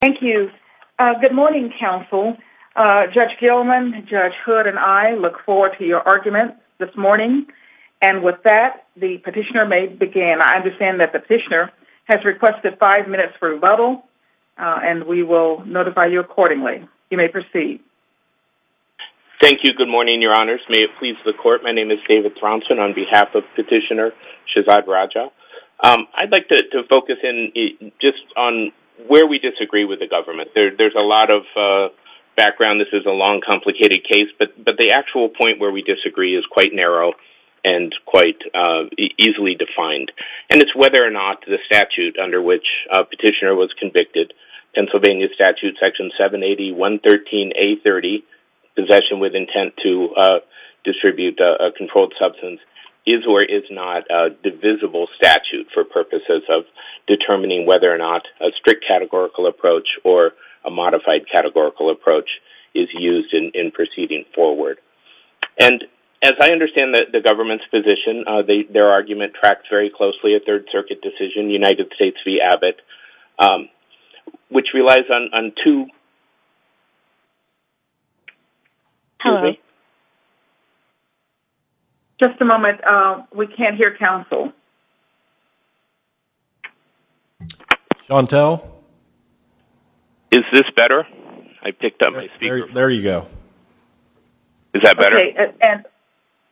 Thank you. Good morning, Counsel. Judge Gilman, Judge Hood, and I look forward to your argument this morning. And with that, the petitioner may begin. I understand that the petitioner has requested five minutes for rebuttal, and we will notify you accordingly. You may proceed. Thank you. Good morning, Your Honors. May it please the Court, my name is David Thrompson on behalf of Petitioner Shahzad Raja. I'd like to focus in just on where we disagree with the government. There's a lot of background. This is a long, complicated case, but the actual point where we disagree is quite narrow and quite easily defined. And it's whether or not the statute under which a petitioner was convicted, Pennsylvania Statute Section 780.113.A30, possession with intent to distribute a controlled substance, is or is not a divisible statute for purposes of determining whether or not a strict categorical approach or a modified categorical approach is used in proceeding forward. And as I understand the government's position, their argument tracks very closely at Third Circuit decision, United States v. Abbott, which relies on two... Just a moment. We can't hear counsel. Chantel? Is this better? I picked up my speaker. There you go. Is that better?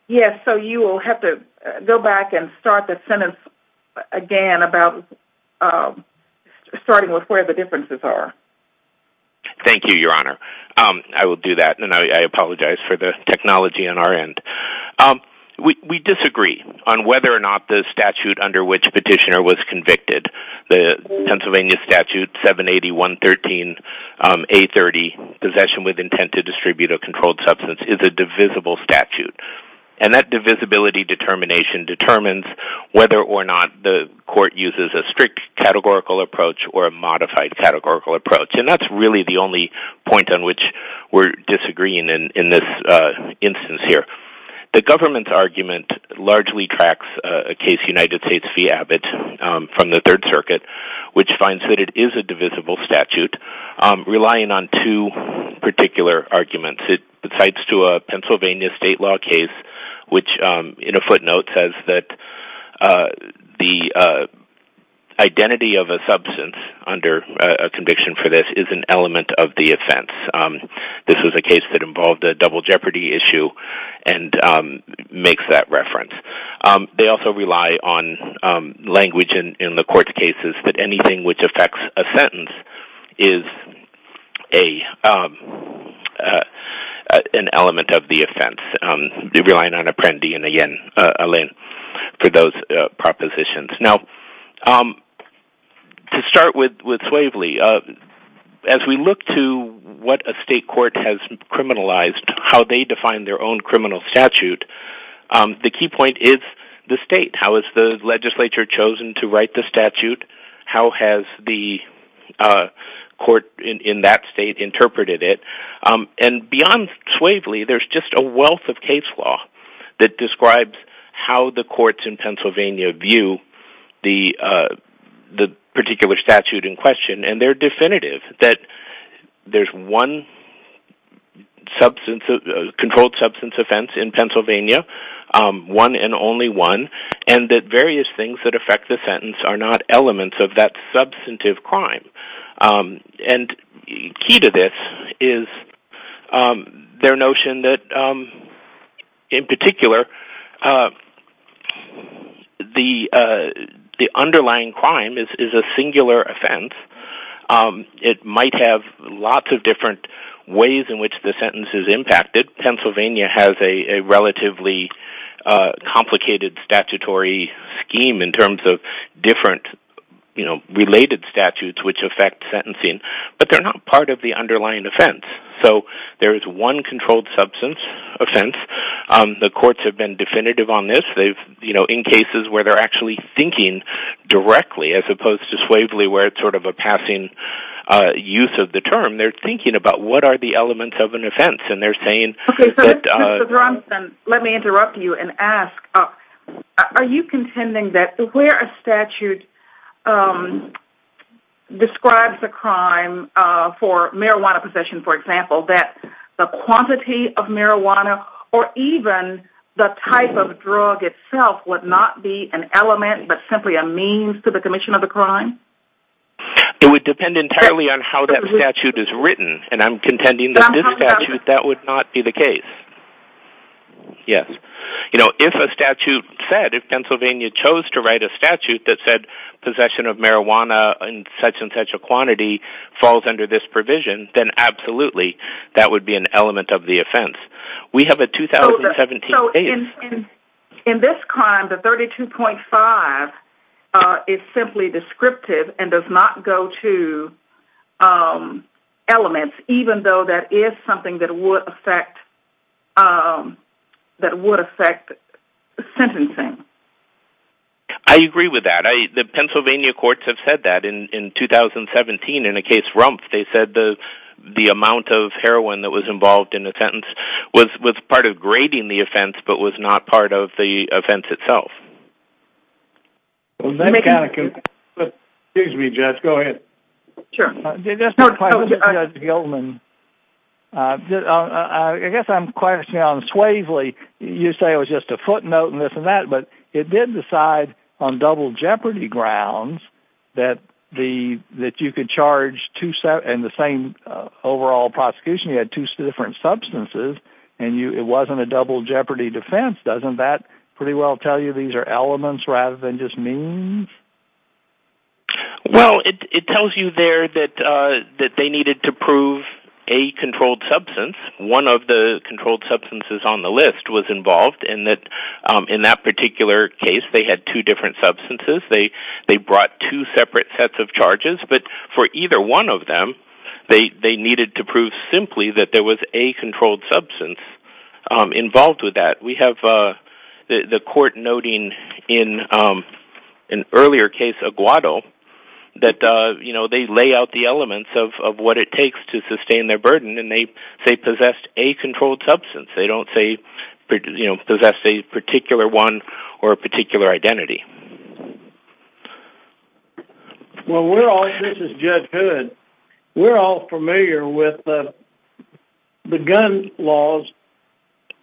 Yes, so you will have to go back and start the sentence again about starting with where the differences are. Thank you, Your Honor. I will do that, and I apologize for the technology on our end. We disagree on whether or not the statute under which a petitioner was convicted, the Pennsylvania Statute 780.113.A30, possession with intent to distribute a controlled substance, is a divisible statute. And that divisibility determination determines whether or not the court uses a strict categorical approach or a modified categorical approach. And that's really the only point on which we're disagreeing in this instance here. The government's argument largely tracks a case, United States v. Abbott from the Third Circuit, which finds that it is a divisible statute, relying on two particular arguments. It cites to a Pennsylvania state law case, which in a footnote says that the identity of a substance under a conviction for this is an element of the offense. This was a case that involved a double jeopardy issue and makes that reference. They also rely on language in the court cases that anything which affects a sentence is an element of the offense. They rely on an apprendi and a lien for those propositions. Now, to start with Swavely, as we look to what a state court has criminalized, how they define their own criminal statute, the key point is the state. How is the legislature chosen to write the statute? How has the court in that state interpreted it? And beyond Swavely, there's just a wealth of case law that describes how the courts in Pennsylvania view the particular statute in question, and they're definitive that there's one controlled substance offense in Pennsylvania, one and only one, and that various things that affect the sentence are not elements of that substantive crime. And key to this is their notion that, in particular, the underlying crime is a singular offense. It might have lots of different ways in which the sentence is impacted. Pennsylvania has a relatively complicated statutory scheme in terms of different related statutes which affect sentencing, but they're not part of the underlying offense. So there is one controlled substance offense. The courts have been definitive on this in cases where they're actually thinking directly, as opposed to Swavely, where it's sort of a passing use of the term. They're thinking about what are the elements of an offense, and they're saying... Let me interrupt you and ask, are you contending that where a statute describes a crime for marijuana possession, for example, that the quantity of marijuana or even the type of drug itself would not be an element but simply a means to the commission of the crime? It would depend entirely on how that statute is written, and I'm contending that this statute, that would not be the case. Yes. You know, if a statute said, if Pennsylvania chose to write a statute that said possession of marijuana in such and such a quantity falls under this provision, then absolutely that would be an element of the offense. We have a 2017 case. So in this crime, the 32.5 is simply descriptive and does not go to elements, even though that is something that would affect sentencing. I agree with that. The Pennsylvania courts have said that. In 2017, in a case, Rumpf, they said the amount of heroin that was involved in the sentence was part of grading the offense but was not part of the offense itself. Excuse me, Judge. Go ahead. Sure. Judge Gilman, I guess I'm questioning on Swavely. You say it was just a footnote and this and that, but it did decide on double jeopardy grounds that you could charge and the same overall prosecution, you had two different substances, and it wasn't a double jeopardy defense. Doesn't that pretty well tell you these are elements rather than just means? Well, it tells you there that they needed to prove a controlled substance. One of the controlled substances on the list was involved in that particular case. They had two different substances. They brought two separate sets of charges, but for either one of them, they needed to prove simply that there was a controlled substance involved with that. We have the court noting in an earlier case, Aguado, that they lay out the elements of what it takes to sustain their burden, and they possessed a controlled substance. They don't possess a particular one or a particular identity. Well, this is Judge Hood. We're all familiar with the gun laws,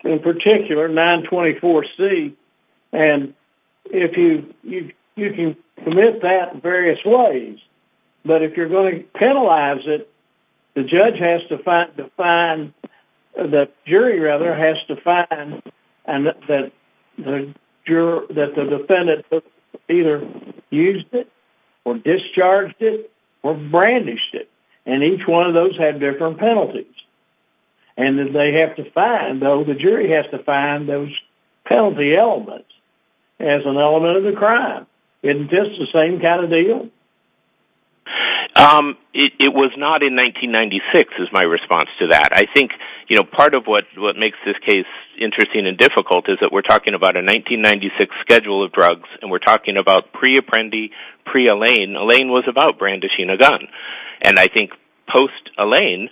in particular 924C, and you can commit that in various ways, but if you're going to penalize it, the judge has to find, the jury rather, has to find that the defendant either used it or discharged it or brandished it, and each one of those had different penalties. The jury has to find those penalty elements as an element of the crime. Isn't this the same kind of deal? It was not in 1996 is my response to that. I think part of what makes this case interesting and difficult is that we're talking about a 1996 schedule of drugs, and we're talking about pre-Apprendi, pre-Allain. Allain was about brandishing a gun, and I think post-Allain,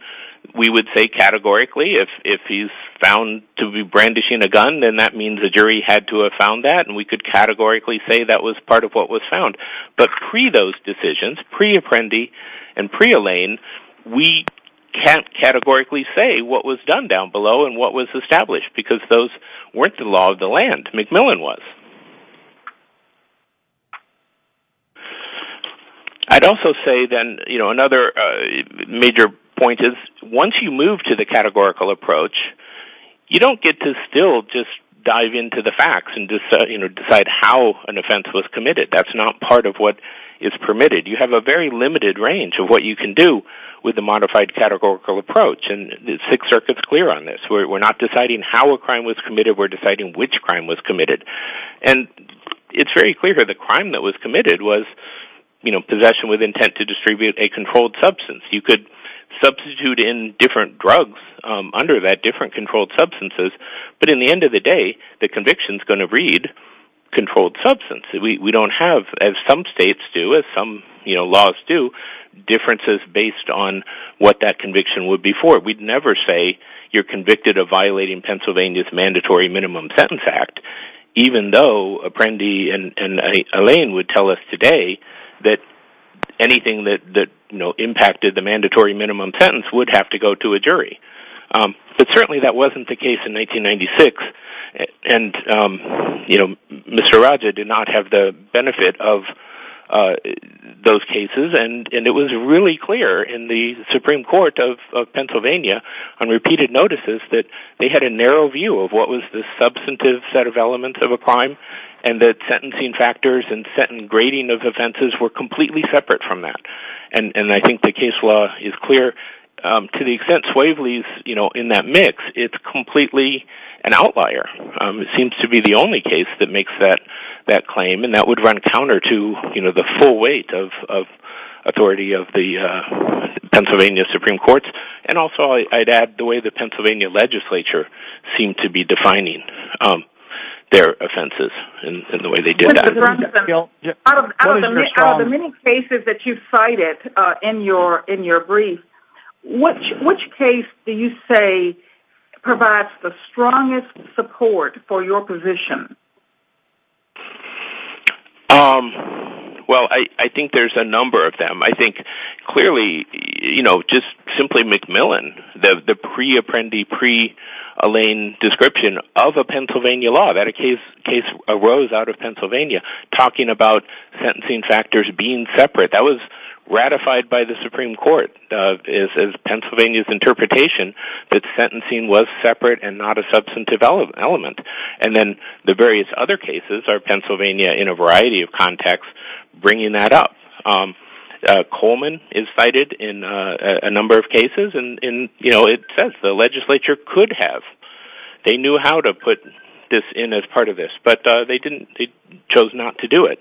we would say categorically if he's found to be brandishing a gun, then that means the jury had to have found that, and we could categorically say that was part of what was found, but pre-those decisions, pre-Apprendi and pre-Allain, we can't categorically say what was done down below and what was established because those weren't the law of the land. McMillan was. I'd also say then another major point is once you move to the categorical approach, you don't get to still just dive into the facts and decide how an offense was committed. That's not part of what is permitted. You have a very limited range of what you can do with a modified categorical approach, and the Sixth Circuit's clear on this. We're not deciding how a crime was committed. We're deciding which crime was committed, and it's very clear that the crime that was committed was possession with intent to distribute a controlled substance. You could substitute in different drugs under that different controlled substances, but in the end of the day, the conviction's going to read controlled substance. We don't have, as some states do, as some laws do, differences based on what that conviction would be for. We'd never say you're convicted of violating Pennsylvania's Mandatory Minimum Sentence Act, even though Apprendi and Lane would tell us today that anything that impacted the Mandatory Minimum Sentence would have to go to a jury, but certainly that wasn't the case in 1996, and Mr. Raja did not have the benefit of those cases, and it was really clear in the Supreme Court that they had a narrow view of what was the substantive set of elements of a crime, and that sentencing factors and sentencing grading of offenses were completely separate from that, and I think the case law is clear. To the extent Swavely's in that mix, it's completely an outlier. It seems to be the only case that makes that claim, and that would run counter to the full and also, I'd add, the way the Pennsylvania legislature seemed to be defining their offenses and the way they did that. Mr. Brunson, out of the many cases that you've cited in your brief, which case do you say provides the strongest support for your position? Well, I think there's a number of them. I think, clearly, just simply McMillan, the pre-Apprendi, pre-Lane description of a Pennsylvania law that a case arose out of Pennsylvania talking about sentencing factors being separate, that was ratified by the Supreme Court as Pennsylvania's interpretation that sentencing was separate and not a substantive element, and then the various other cases are Pennsylvania in a variety of contexts bringing that up. Coleman is cited in a number of cases, and it says the legislature could have. They knew how to put this in as part of this, but they chose not to do it.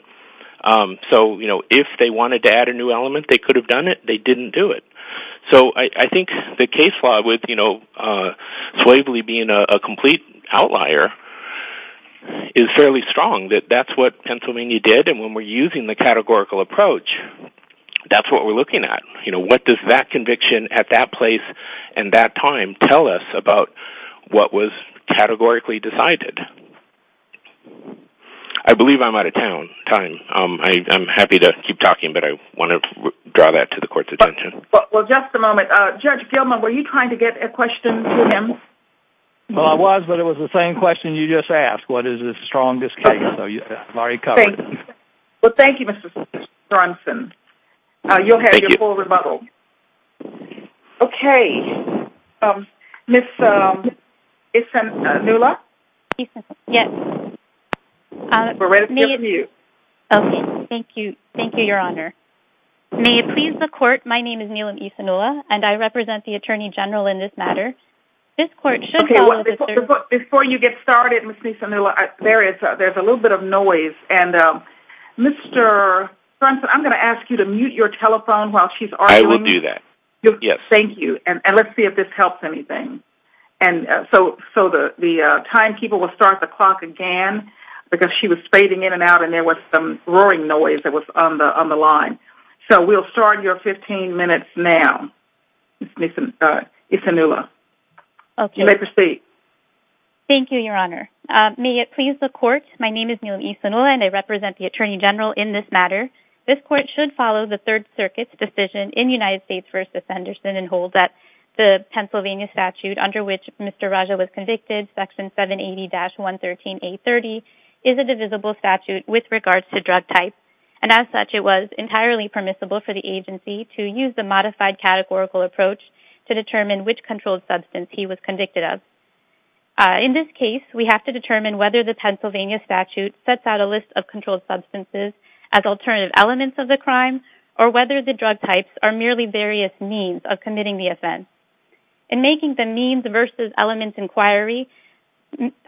So if they wanted to add a new element, they could have done it. They didn't do it. So I think the case law with Swavely being a complete outlier is fairly strong, that that's what Pennsylvania did, and when we're using the categorical approach, that's what we're looking at. What does that conviction at that place and that time tell us about what was categorically decided? I believe I'm out of time. I'm happy to keep talking, but I want to draw that to the court's attention. Well, just a moment. Judge Gilman, were you trying to get a question to him? Well, I was, but it was the same question you just asked. What is the strongest case? I've already covered it. Well, thank you, Mr. Johnson. You'll have your full rebuttal. Okay. Ms. Nula? Yes. We're ready to unmute. Okay. Thank you. Thank you, Your Honor. May it please the court, my name is Neelam E. Sanula, and I represent the attorney general in this matter. This court should follow the... Okay, before you get started, Ms. Nula, there's a little bit of noise, and Mr. Johnson, I'm going to ask you to mute your telephone while she's arguing. I will do that. Thank you, and let's see if this helps anything. And so the timekeeper will start the clock and because she was fading in and out, and there was some roaring noise that was on the line. So we'll start your 15 minutes now, Ms. E. Sanula. You may proceed. Thank you, Your Honor. May it please the court, my name is Neelam E. Sanula, and I represent the attorney general in this matter. This court should follow the Third Circuit's decision in United States v. Henderson and hold that the Pennsylvania statute under which Mr. Raja was convicted, Section 780-113A30, is a divisible statute with regards to drug type, and as such, it was entirely permissible for the agency to use the modified categorical approach to determine which controlled substance he was convicted of. In this case, we have to determine whether the Pennsylvania statute sets out a list of controlled substances as alternative elements of the crime, or whether the drug types are various means of committing the offense. In making the Means v. Elements inquiry, Mathis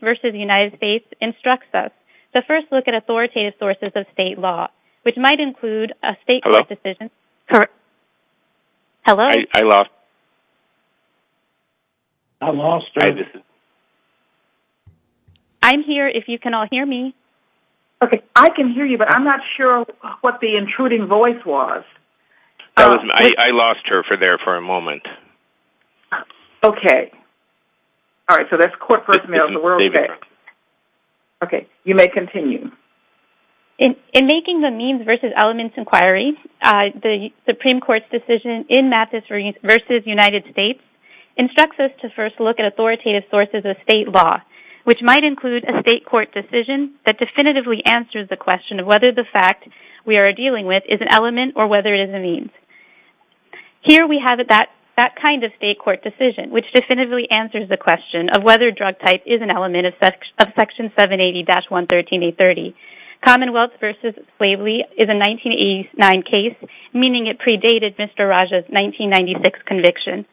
v. United States instructs us to first look at authoritative sources of state law, which might include a state court decision... Hello? Correct. Hello? I lost... I'm all straight. I'm here, if you can all hear me. Okay, I can hear you, but I'm not sure what the intruding voice was. I lost her there for a moment. Okay. All right, so that's court first mail. Okay, you may continue. In making the Means v. Elements inquiry, the Supreme Court's decision in Mathis v. United States instructs us to first look at authoritative sources of state law, which might include a state court decision that definitively answers the question of whether the fact we are dealing with is an element or whether it is a means. Here we have that kind of state court decision, which definitively answers the question of whether a drug type is an element of Section 780-113-830. Commonwealth v. Slavely is a 1989 case, meaning it predated Mr. Rajah's 1996 conviction.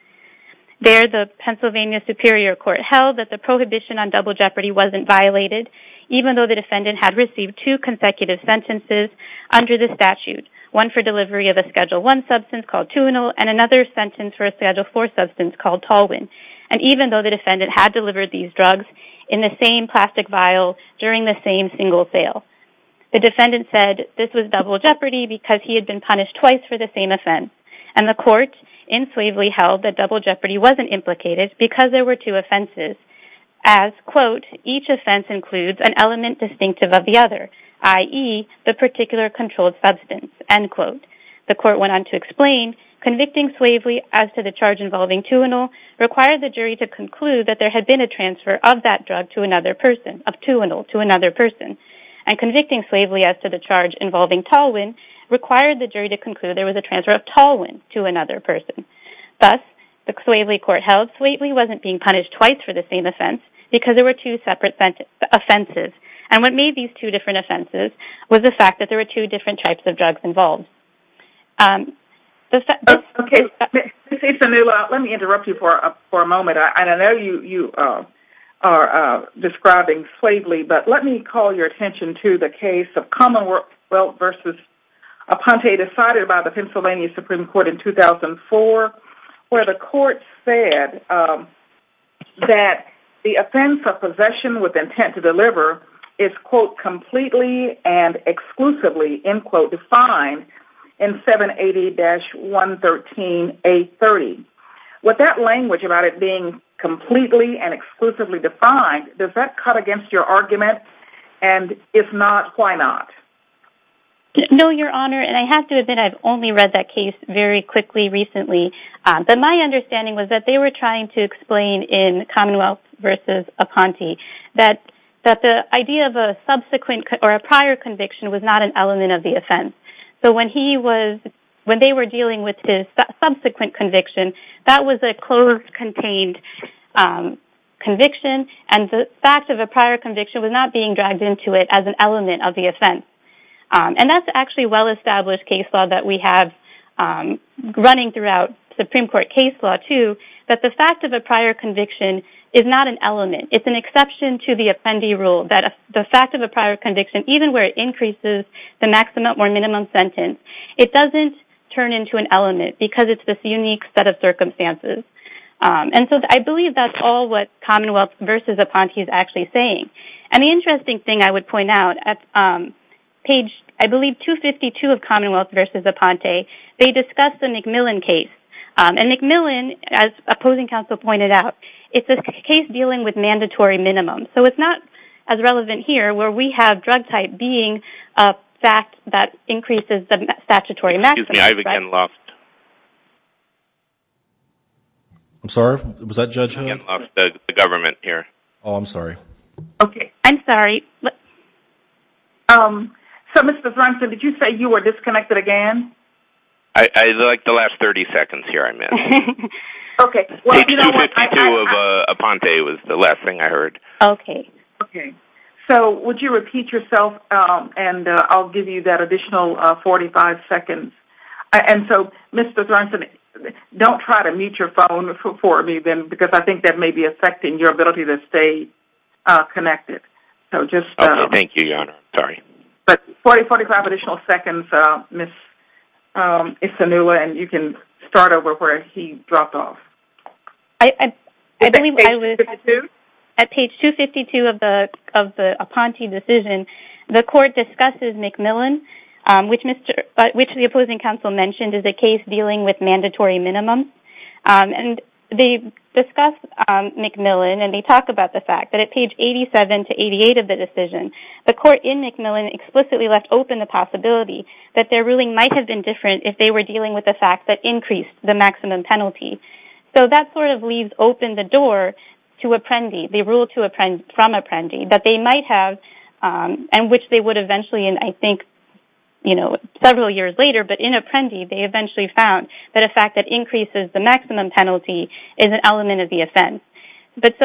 There, the Pennsylvania Superior Court held that the prohibition on double jeopardy wasn't violated, even though the defendant had received two consecutive sentences under the statute, one for delivery of a Schedule I substance called Tunel and another sentence for a Schedule IV substance called Tolwin, and even though the defendant had delivered these drugs in the same plastic vial during the same single sale. The defendant said this was double jeopardy because he had been punished twice for the same offense, and the court in Slavely held that double includes an element distinctive of the other, i.e., the particular controlled substance. The court went on to explain, convicting Slavely as to the charge involving Tunel required the jury to conclude that there had been a transfer of that drug to another person, of Tunel to another person, and convicting Slavely as to the charge involving Tolwin required the jury to conclude there was a transfer of Tolwin to another person. Thus, the Slavely court held Slavely wasn't being punished twice for the same offense because there were two separate offenses, and what made these two different offenses was the fact that there were two different types of drugs involved. Okay, Ms. Itzanula, let me interrupt you for a moment. I know you are describing Slavely, but let me call your attention to the case of Commonwealth v. Aponte decided by the defense of possession with intent to deliver is, quote, completely and exclusively, end quote, defined in 780-113A30. With that language about it being completely and exclusively defined, does that cut against your argument? And if not, why not? No, Your Honor, and I have to admit I've only read that case very quickly recently, but my understanding was that they were trying to explain in Commonwealth v. Aponte that the idea of a subsequent or a prior conviction was not an element of the offense. So when they were dealing with his subsequent conviction, that was a closed contained conviction, and the fact of a prior conviction was not being dragged into it as an element of the offense. And that's actually well-established case law that we have running throughout Supreme Court case law, too, that the fact of a prior conviction is not an element. It's an exception to the Appendee Rule that the fact of a prior conviction, even where it increases the maximum or minimum sentence, it doesn't turn into an element because it's this unique set of circumstances. And so I believe that's all what Commonwealth v. Aponte is actually saying. And the interesting thing I would point out, at page, I believe, 252 of Commonwealth v. Aponte, they discussed the McMillan case. And McMillan, as opposing counsel pointed out, it's a case dealing with mandatory minimum. So it's not as relevant here where we have drug type being a fact that increases the statutory maximum. Excuse me, I've again lost. I'm sorry, was that Judge Hunt? I've again lost the government here. Oh, I'm sorry. Okay, I'm sorry. So, Mr. Brunson, did you say you were disconnected again? I like the last 30 seconds here I missed. Okay. Page 252 of Aponte was the last thing I heard. Okay. Okay. So would you repeat yourself? And I'll give you that additional 45 seconds. And so, Mr. Brunson, don't try to mute your phone for me then, because I think that may be affecting your ability to stay connected. So just... Okay, thank you, Your Honor. Sorry. But 45 additional seconds, Ms. Isinula, and you can start over where he dropped off. I believe I was... Page 252? At page 252 of the Aponte decision, the court discusses McMillan, which the opposing counsel mentioned is a case dealing with mandatory minimums. And they discuss McMillan, and they talk about the fact that at page 87 to 88 of the decision, the court in McMillan explicitly left open the possibility that their ruling might have been different if they were dealing with the fact that increased the maximum penalty. So that sort of leaves open the door to Apprendi, the rule from Apprendi, that they might have, and which they would eventually, I think, several years later. But in Apprendi, they eventually found that a fact that increases the maximum penalty is an element of the offense. But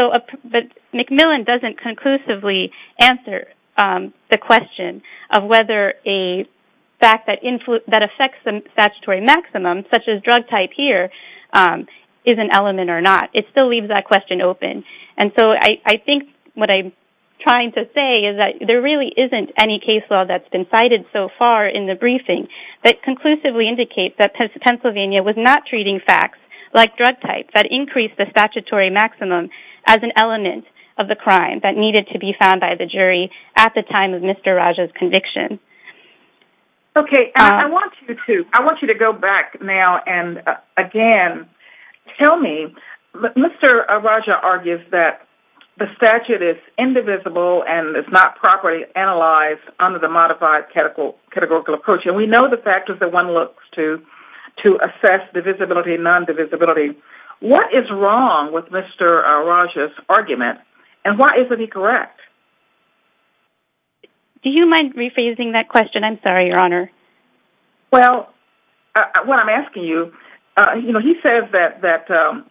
McMillan doesn't conclusively answer the question of whether a fact that affects the statutory maximum, such as drug type here, is an element or not. It still leaves that question open. And so, I think what I'm trying to say is that there really isn't any case law that's been cited so far in the briefing that conclusively indicates that Pennsylvania was not treating facts like drug type that increased the statutory maximum as an element of the crime that needed to be found by the jury at the time of Mr. Raja's conviction. Okay. I want you to go back now and, again, tell me, Mr. Raja argues that the statute is indivisible and is not properly analyzed under the modified categorical approach. And we know the factors that one looks to assess divisibility, non-divisibility. What is wrong with Mr. Raja's argument? And why isn't he correct? Do you mind rephrasing that question? I'm sorry, Your Honor. Well, what I'm asking you, you know, he says that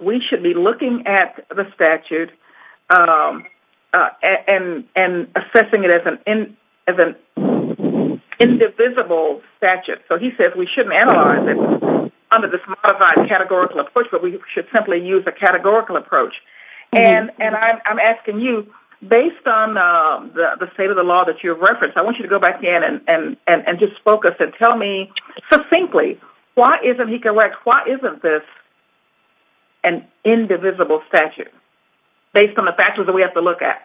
we should be looking at the statute and assessing it as an indivisible statute. So, he says we shouldn't analyze it under this modified categorical approach, but we should simply use a categorical approach. And I'm asking you, based on the state of the law that you referenced, I want you to go back and just focus and tell me, succinctly, why isn't he correct? Why isn't this an indivisible statute based on the factors that we have to look at?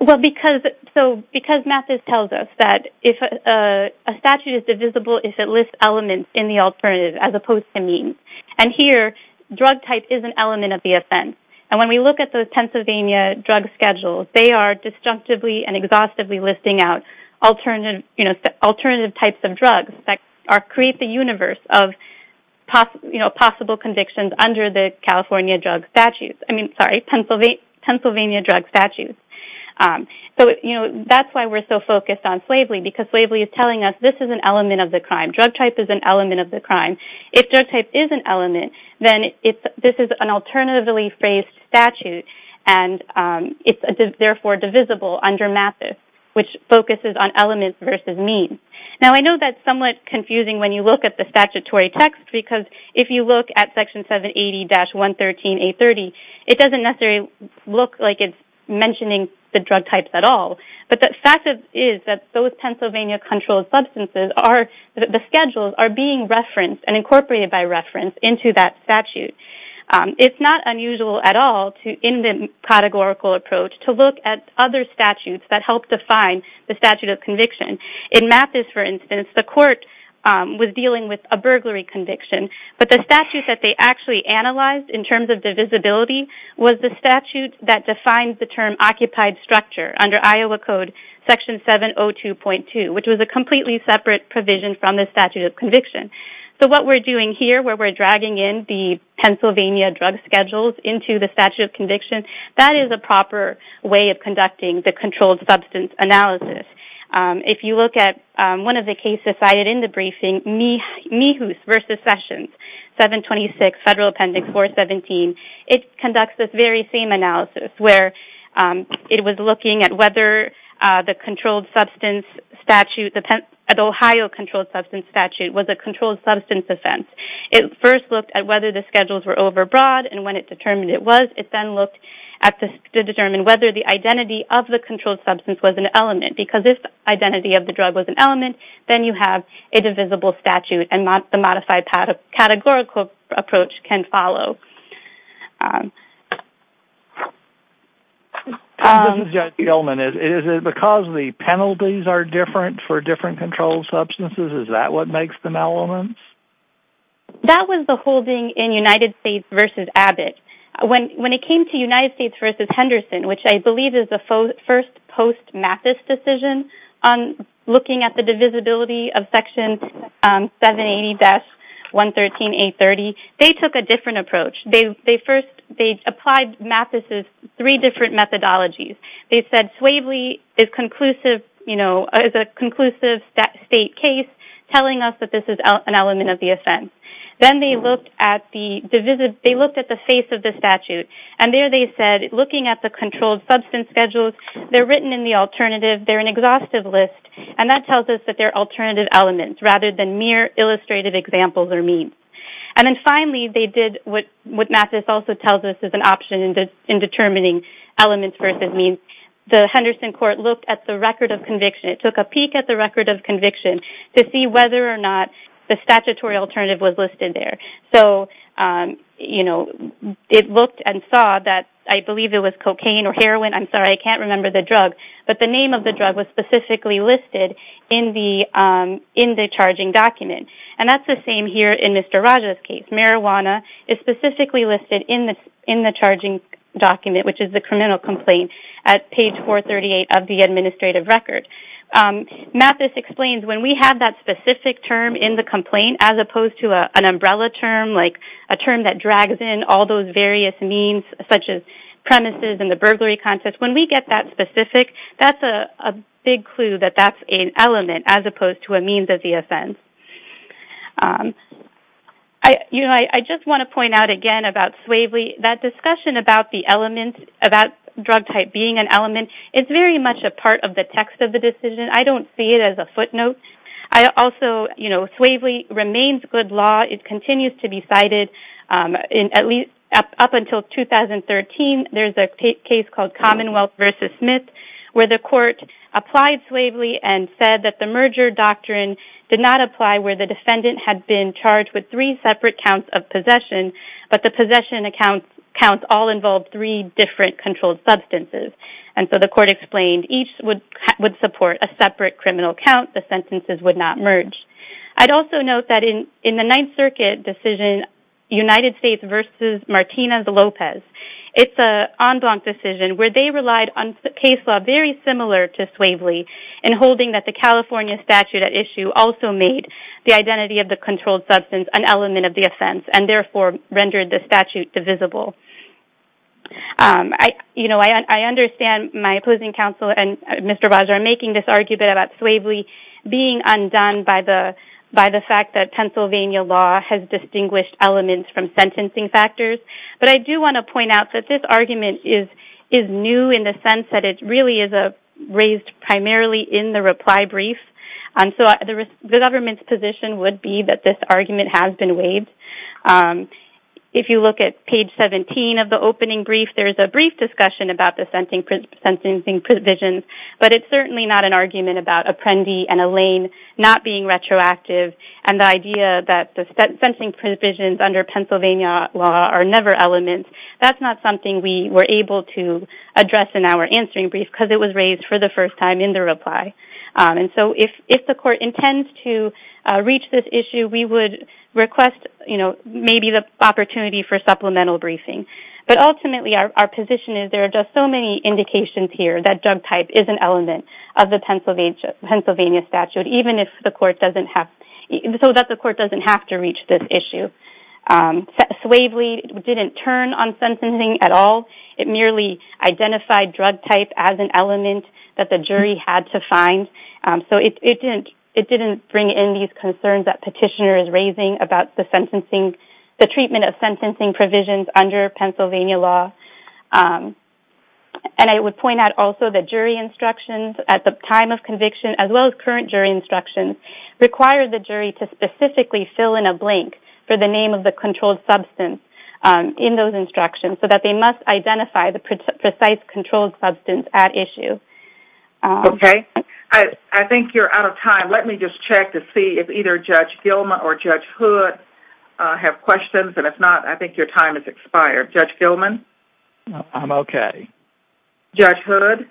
Well, because, so, because Mathis tells us that a statute is divisible if it lists elements in the alternative as opposed to means. And here, drug type is an element of the offense. And when we at those Pennsylvania drug schedules, they are disjunctively and exhaustively listing out alternative types of drugs that create the universe of possible convictions under the California drug statute. I mean, sorry, Pennsylvania drug statute. So, you know, that's why we're so focused on Slavely, because Slavely is telling us this is an element of the crime. Drug type is an element of the crime. If drug type is an element, then this is an alternatively phrased statute. And it's therefore divisible under Mathis, which focuses on elements versus means. Now, I know that's somewhat confusing when you look at the statutory text, because if you look at Section 780-113-830, it doesn't necessarily look like it's mentioning the drug types at all. But the fact is that those Pennsylvania controlled substances are, the schedules are being referenced and incorporated by reference into that statute. It's not unusual at all to, in the categorical approach, to look at other statutes that help define the statute of conviction. In Mathis, for instance, the court was dealing with a burglary conviction. But the statute that they actually analyzed in terms of divisibility was the statute that defines the term occupied structure under Iowa Code Section 702.2, which was a completely separate provision from the statute of conviction. So what we're doing here, where we're dragging in the Pennsylvania drug schedules into the statute of conviction, that is a proper way of conducting the controlled substance analysis. If you look at one of the cases cited in the briefing, Mihoos v. Sessions, 726 Federal Appendix 417, it conducts this very same analysis, where it was looking at whether the controlled substance statute, the Ohio controlled substance statute, was a controlled substance offense. It first looked at whether the schedules were overbroad, and when it determined it was, it then looked to determine whether the identity of the controlled substance was an element. Because if the identity of the drug was an element, then you have a divisible statute, and the modified categorical approach can follow. This is Judge Gilman. Is it because the penalties are different for different elements? That was the holding in United States v. Abbott. When it came to United States v. Henderson, which I believe is the first post-Mathis decision on looking at the divisibility of Section 780-113-830, they took a different approach. They first applied Mathis' three different elements of the offense. Then they looked at the face of the statute, and there they said, looking at the controlled substance schedules, they're written in the alternative, they're an exhaustive list, and that tells us that they're alternative elements, rather than mere illustrative examples or means. And then finally, they did what Mathis also tells us is an option in determining elements versus means. The Henderson court looked at the record of conviction. It took whether or not the statutory alternative was listed there. It looked and saw that I believe it was cocaine or heroin. I'm sorry, I can't remember the drug. But the name of the drug was specifically listed in the charging document. And that's the same here in Mr. Raja's case. Marijuana is specifically listed in the charging document, which is the criminal complaint, at page 438 of the administrative record. Mathis explains when we have that specific term in the complaint, as opposed to an umbrella term, like a term that drags in all those various means, such as premises and the burglary context, when we get that specific, that's a big clue that that's an element, as opposed to a means of the offense. You know, I just want to point out again about Swavely, that discussion about the element, about drug type being an element, it's very much a part of the text of the decision. I don't see it as a footnote. I also, you know, Swavely remains good law. It continues to be cited in at least up until 2013. There's a case called Commonwealth versus Smith, where the court applied and said that the merger doctrine did not apply where the defendant had been charged with three separate counts of possession, but the possession accounts all involved three different controlled substances. And so the court explained each would support a separate criminal count. The sentences would not merge. I'd also note that in the Ninth Circuit decision, United States versus Martinez-Lopez, it's an en blanc decision where they relied on a case law very similar to Swavely in holding that the California statute at issue also made the identity of the controlled substance an element of the offense and therefore rendered the statute divisible. You know, I understand my opposing counsel and Mr. Bajor making this argument about Swavely being undone by the fact that Pennsylvania law has distinguished elements from sentencing factors, but I do want to point out that this argument is new in the sense that it really is raised primarily in the reply brief. And so the government's position would be that this argument has been waived. If you look at page 17 of the opening brief, there's a brief discussion about the sentencing provisions, but it's certainly not an argument about Apprendi and Allain not being retroactive and the idea that the sentencing provisions under Pennsylvania law are never elements. That's not something we were able to address in our answering brief because it was raised for the first time in the reply. And so if the court intends to reach this issue, we would request, you know, maybe the opportunity for supplemental briefing. But ultimately our position is there are just so many indications here that drug type is an element of the Pennsylvania statute, even if the court doesn't have to reach this issue. Swavely didn't turn on sentencing at all. It merely identified drug type as an element that the jury had to find. So it didn't bring in these concerns that petitioner is raising about the treatment of sentencing provisions under Pennsylvania law. And I would point out also that jury instructions at the time of conviction as well as current jury instructions require the jury to specifically fill in a blank for the name of the controlled substance in those instructions so that they must identify the precise controlled substance at issue. Okay. I think you're out of time. Let me just check to see if either Judge Gilman or Judge Hood have questions. And if not, I think your time has expired. Judge Gilman? I'm okay. Judge Hood?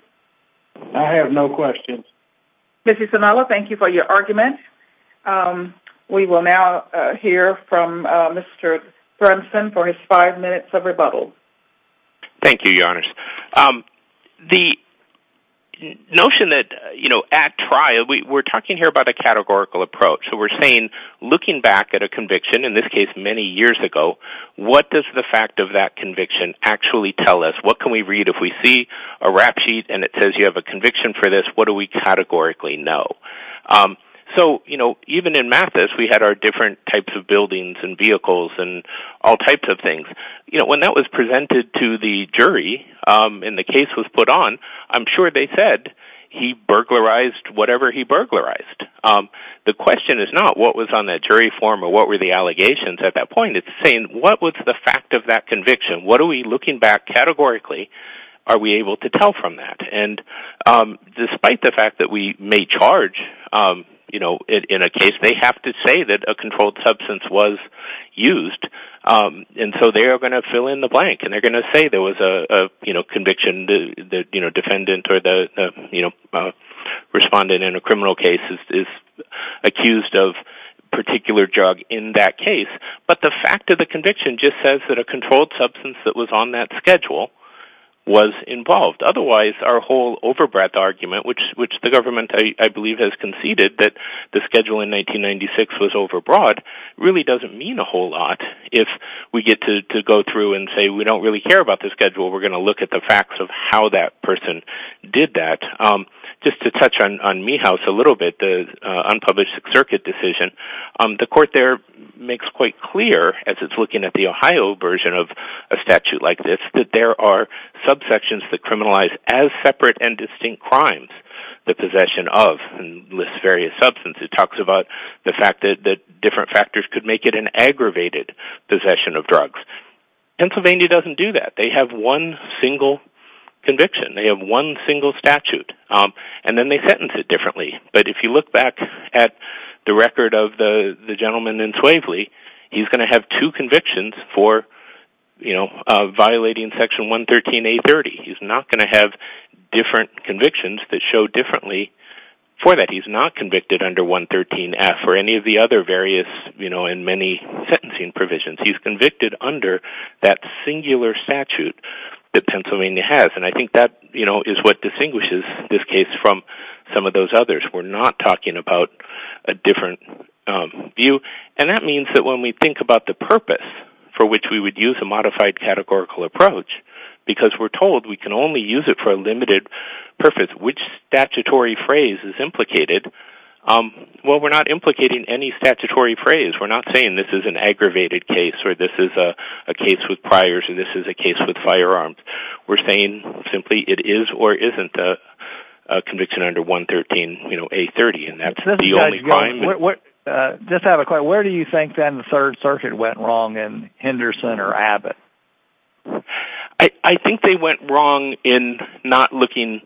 I have no questions. Mr. Sinaloa, thank you for your argument. We will now hear from Mr. Brunson for his five minutes of rebuttal. Thank you, Your Honors. The notion that, you know, at trial, we're talking here about a categorical approach. So we're saying looking back at a conviction, in this case many years ago, what does the fact of that conviction actually tell us? What can we read if we see a rap sheet and it says you have a conviction for this? What do we categorically know? So, you know, even in Mathis, we had our different types of buildings and vehicles and all types of things. You know, when that was presented to the jury and the case was put on, I'm sure they said he burglarized whatever he burglarized. The question is not what was on that jury form or what were the allegations at that point. It's saying what was the fact of that conviction? What are we looking back categorically? Are we able to tell from that? And despite the fact that we may charge, you know, in a case, they have to say that a controlled substance was used. And so they are going to fill in the blank and they're going to say there was a, you know, conviction that, you know, defendant or the, you know, respondent in a criminal case is accused of particular drug in that case. But the fact of the conviction just says that a controlled substance that was on that schedule was involved. Otherwise, our whole overbreadth argument, which the government, I believe, has conceded that the schedule in 1996 was overbroad, really doesn't mean a whole lot. If we get to go through and say we don't really care about the schedule, we're going to look at the facts of how that person did that. Just to touch on a little bit, the unpublished Sixth Circuit decision, the court there makes quite clear, as it's looking at the Ohio version of a statute like this, that there are subsections that criminalize as separate and distinct crimes, the possession of various substances. It talks about the fact that different factors could make it an aggravated possession of drugs. Pennsylvania doesn't do that. They have one single conviction. They have one single statute. And then they differently. But if you look back at the record of the gentleman in Swavely, he's going to have two convictions for violating Section 113.830. He's not going to have different convictions that show differently for that. He's not convicted under 113F or any of the other various and many sentencing provisions. He's convicted under that singular statute that Pennsylvania has. I think that is what distinguishes this case from some of those others. We're not talking about a different view. And that means that when we think about the purpose for which we would use a modified categorical approach, because we're told we can only use it for a limited purpose, which statutory phrase is implicated? Well, we're not implicating any statutory phrase. We're not saying this is an aggravated case or this is a case with priors and this is a case with firearms. We're saying simply it is or isn't a conviction under 113.830. And that's the only crime. Just have a question. Where do you think then the Third Circuit went wrong in Henderson or Abbott? I think they went wrong in not looking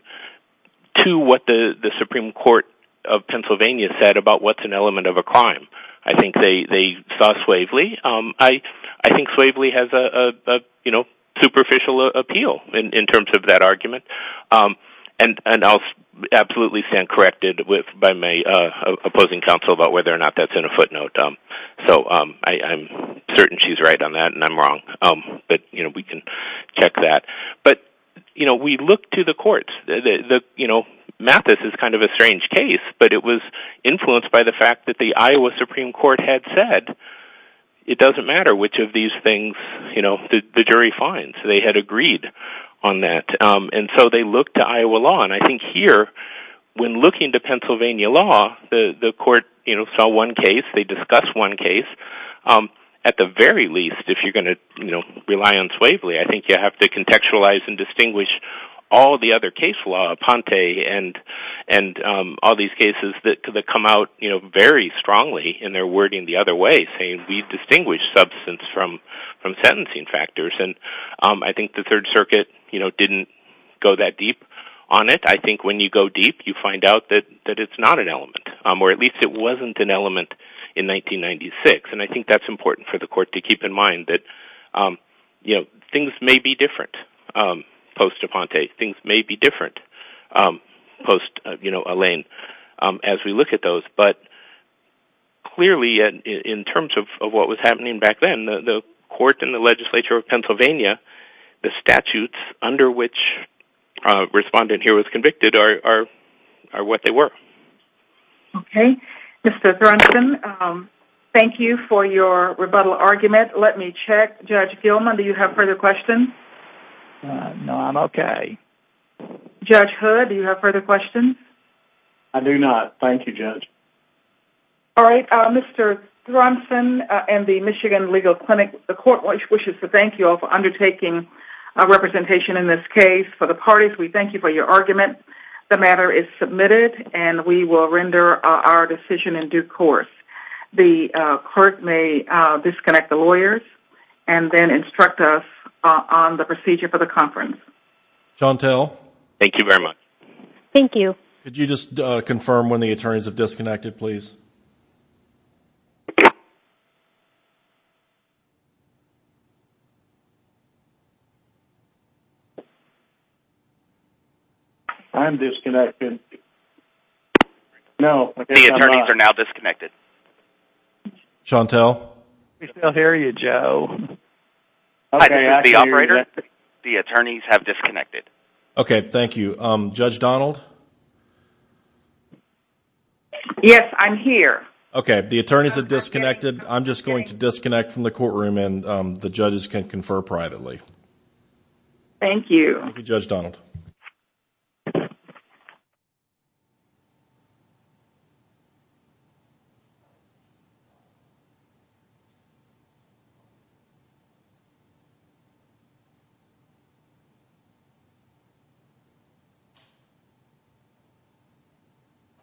to what the Supreme Court of Pennsylvania said about what's element of a crime. I think they saw suavely. I think suavely has a superficial appeal in terms of that argument. And I'll absolutely stand corrected by my opposing counsel about whether or not that's in a footnote. So I'm certain she's right on that, and I'm wrong. But we can check that. But we looked to the courts. Mathis is kind of a strange case, but it was influenced by the fact that the Iowa Supreme Court had said it doesn't matter which of these things the jury finds. They had agreed on that. And so they looked to Iowa law. And I think here, when looking to Pennsylvania law, the court saw one case, they discussed one case. At the very least, if you're going to rely on suavely, I think you have to contextualize and distinguish all the other case and all these cases that come out very strongly in their wording the other way, saying we distinguish substance from sentencing factors. And I think the Third Circuit didn't go that deep on it. I think when you go deep, you find out that it's not an element, or at least it wasn't an element in 1996. And I think that's important for the court to keep in mind that things may be different post-Elaine, as we look at those. But clearly, in terms of what was happening back then, the court and the legislature of Pennsylvania, the statutes under which a respondent here was convicted are what they were. Okay. Mr. Thronson, thank you for your rebuttal argument. Let me check. Judge Gilman, do you have further questions? No, I'm okay. Judge Hood, do you have further questions? I do not. Thank you, Judge. All right. Mr. Thronson and the Michigan Legal Clinic, the court wishes to thank you all for undertaking a representation in this case. For the parties, we thank you for your argument. The matter is submitted, and we will render our decision in due course. The court may disconnect the lawyers and then instruct us on the procedure for the conference. Chantel? Thank you very much. Thank you. Could you just confirm when the attorneys have disconnected, please? I'm disconnected. No. The attorneys are now disconnected. Chantel? We still hear you, Joe. The attorneys have disconnected. Okay. Thank you. Judge Donald? Yes, I'm here. Okay. The attorneys have disconnected. I'm just going to disconnect from the courtroom, and the judges can confer privately. Thank you. Thank you, Judge Donald.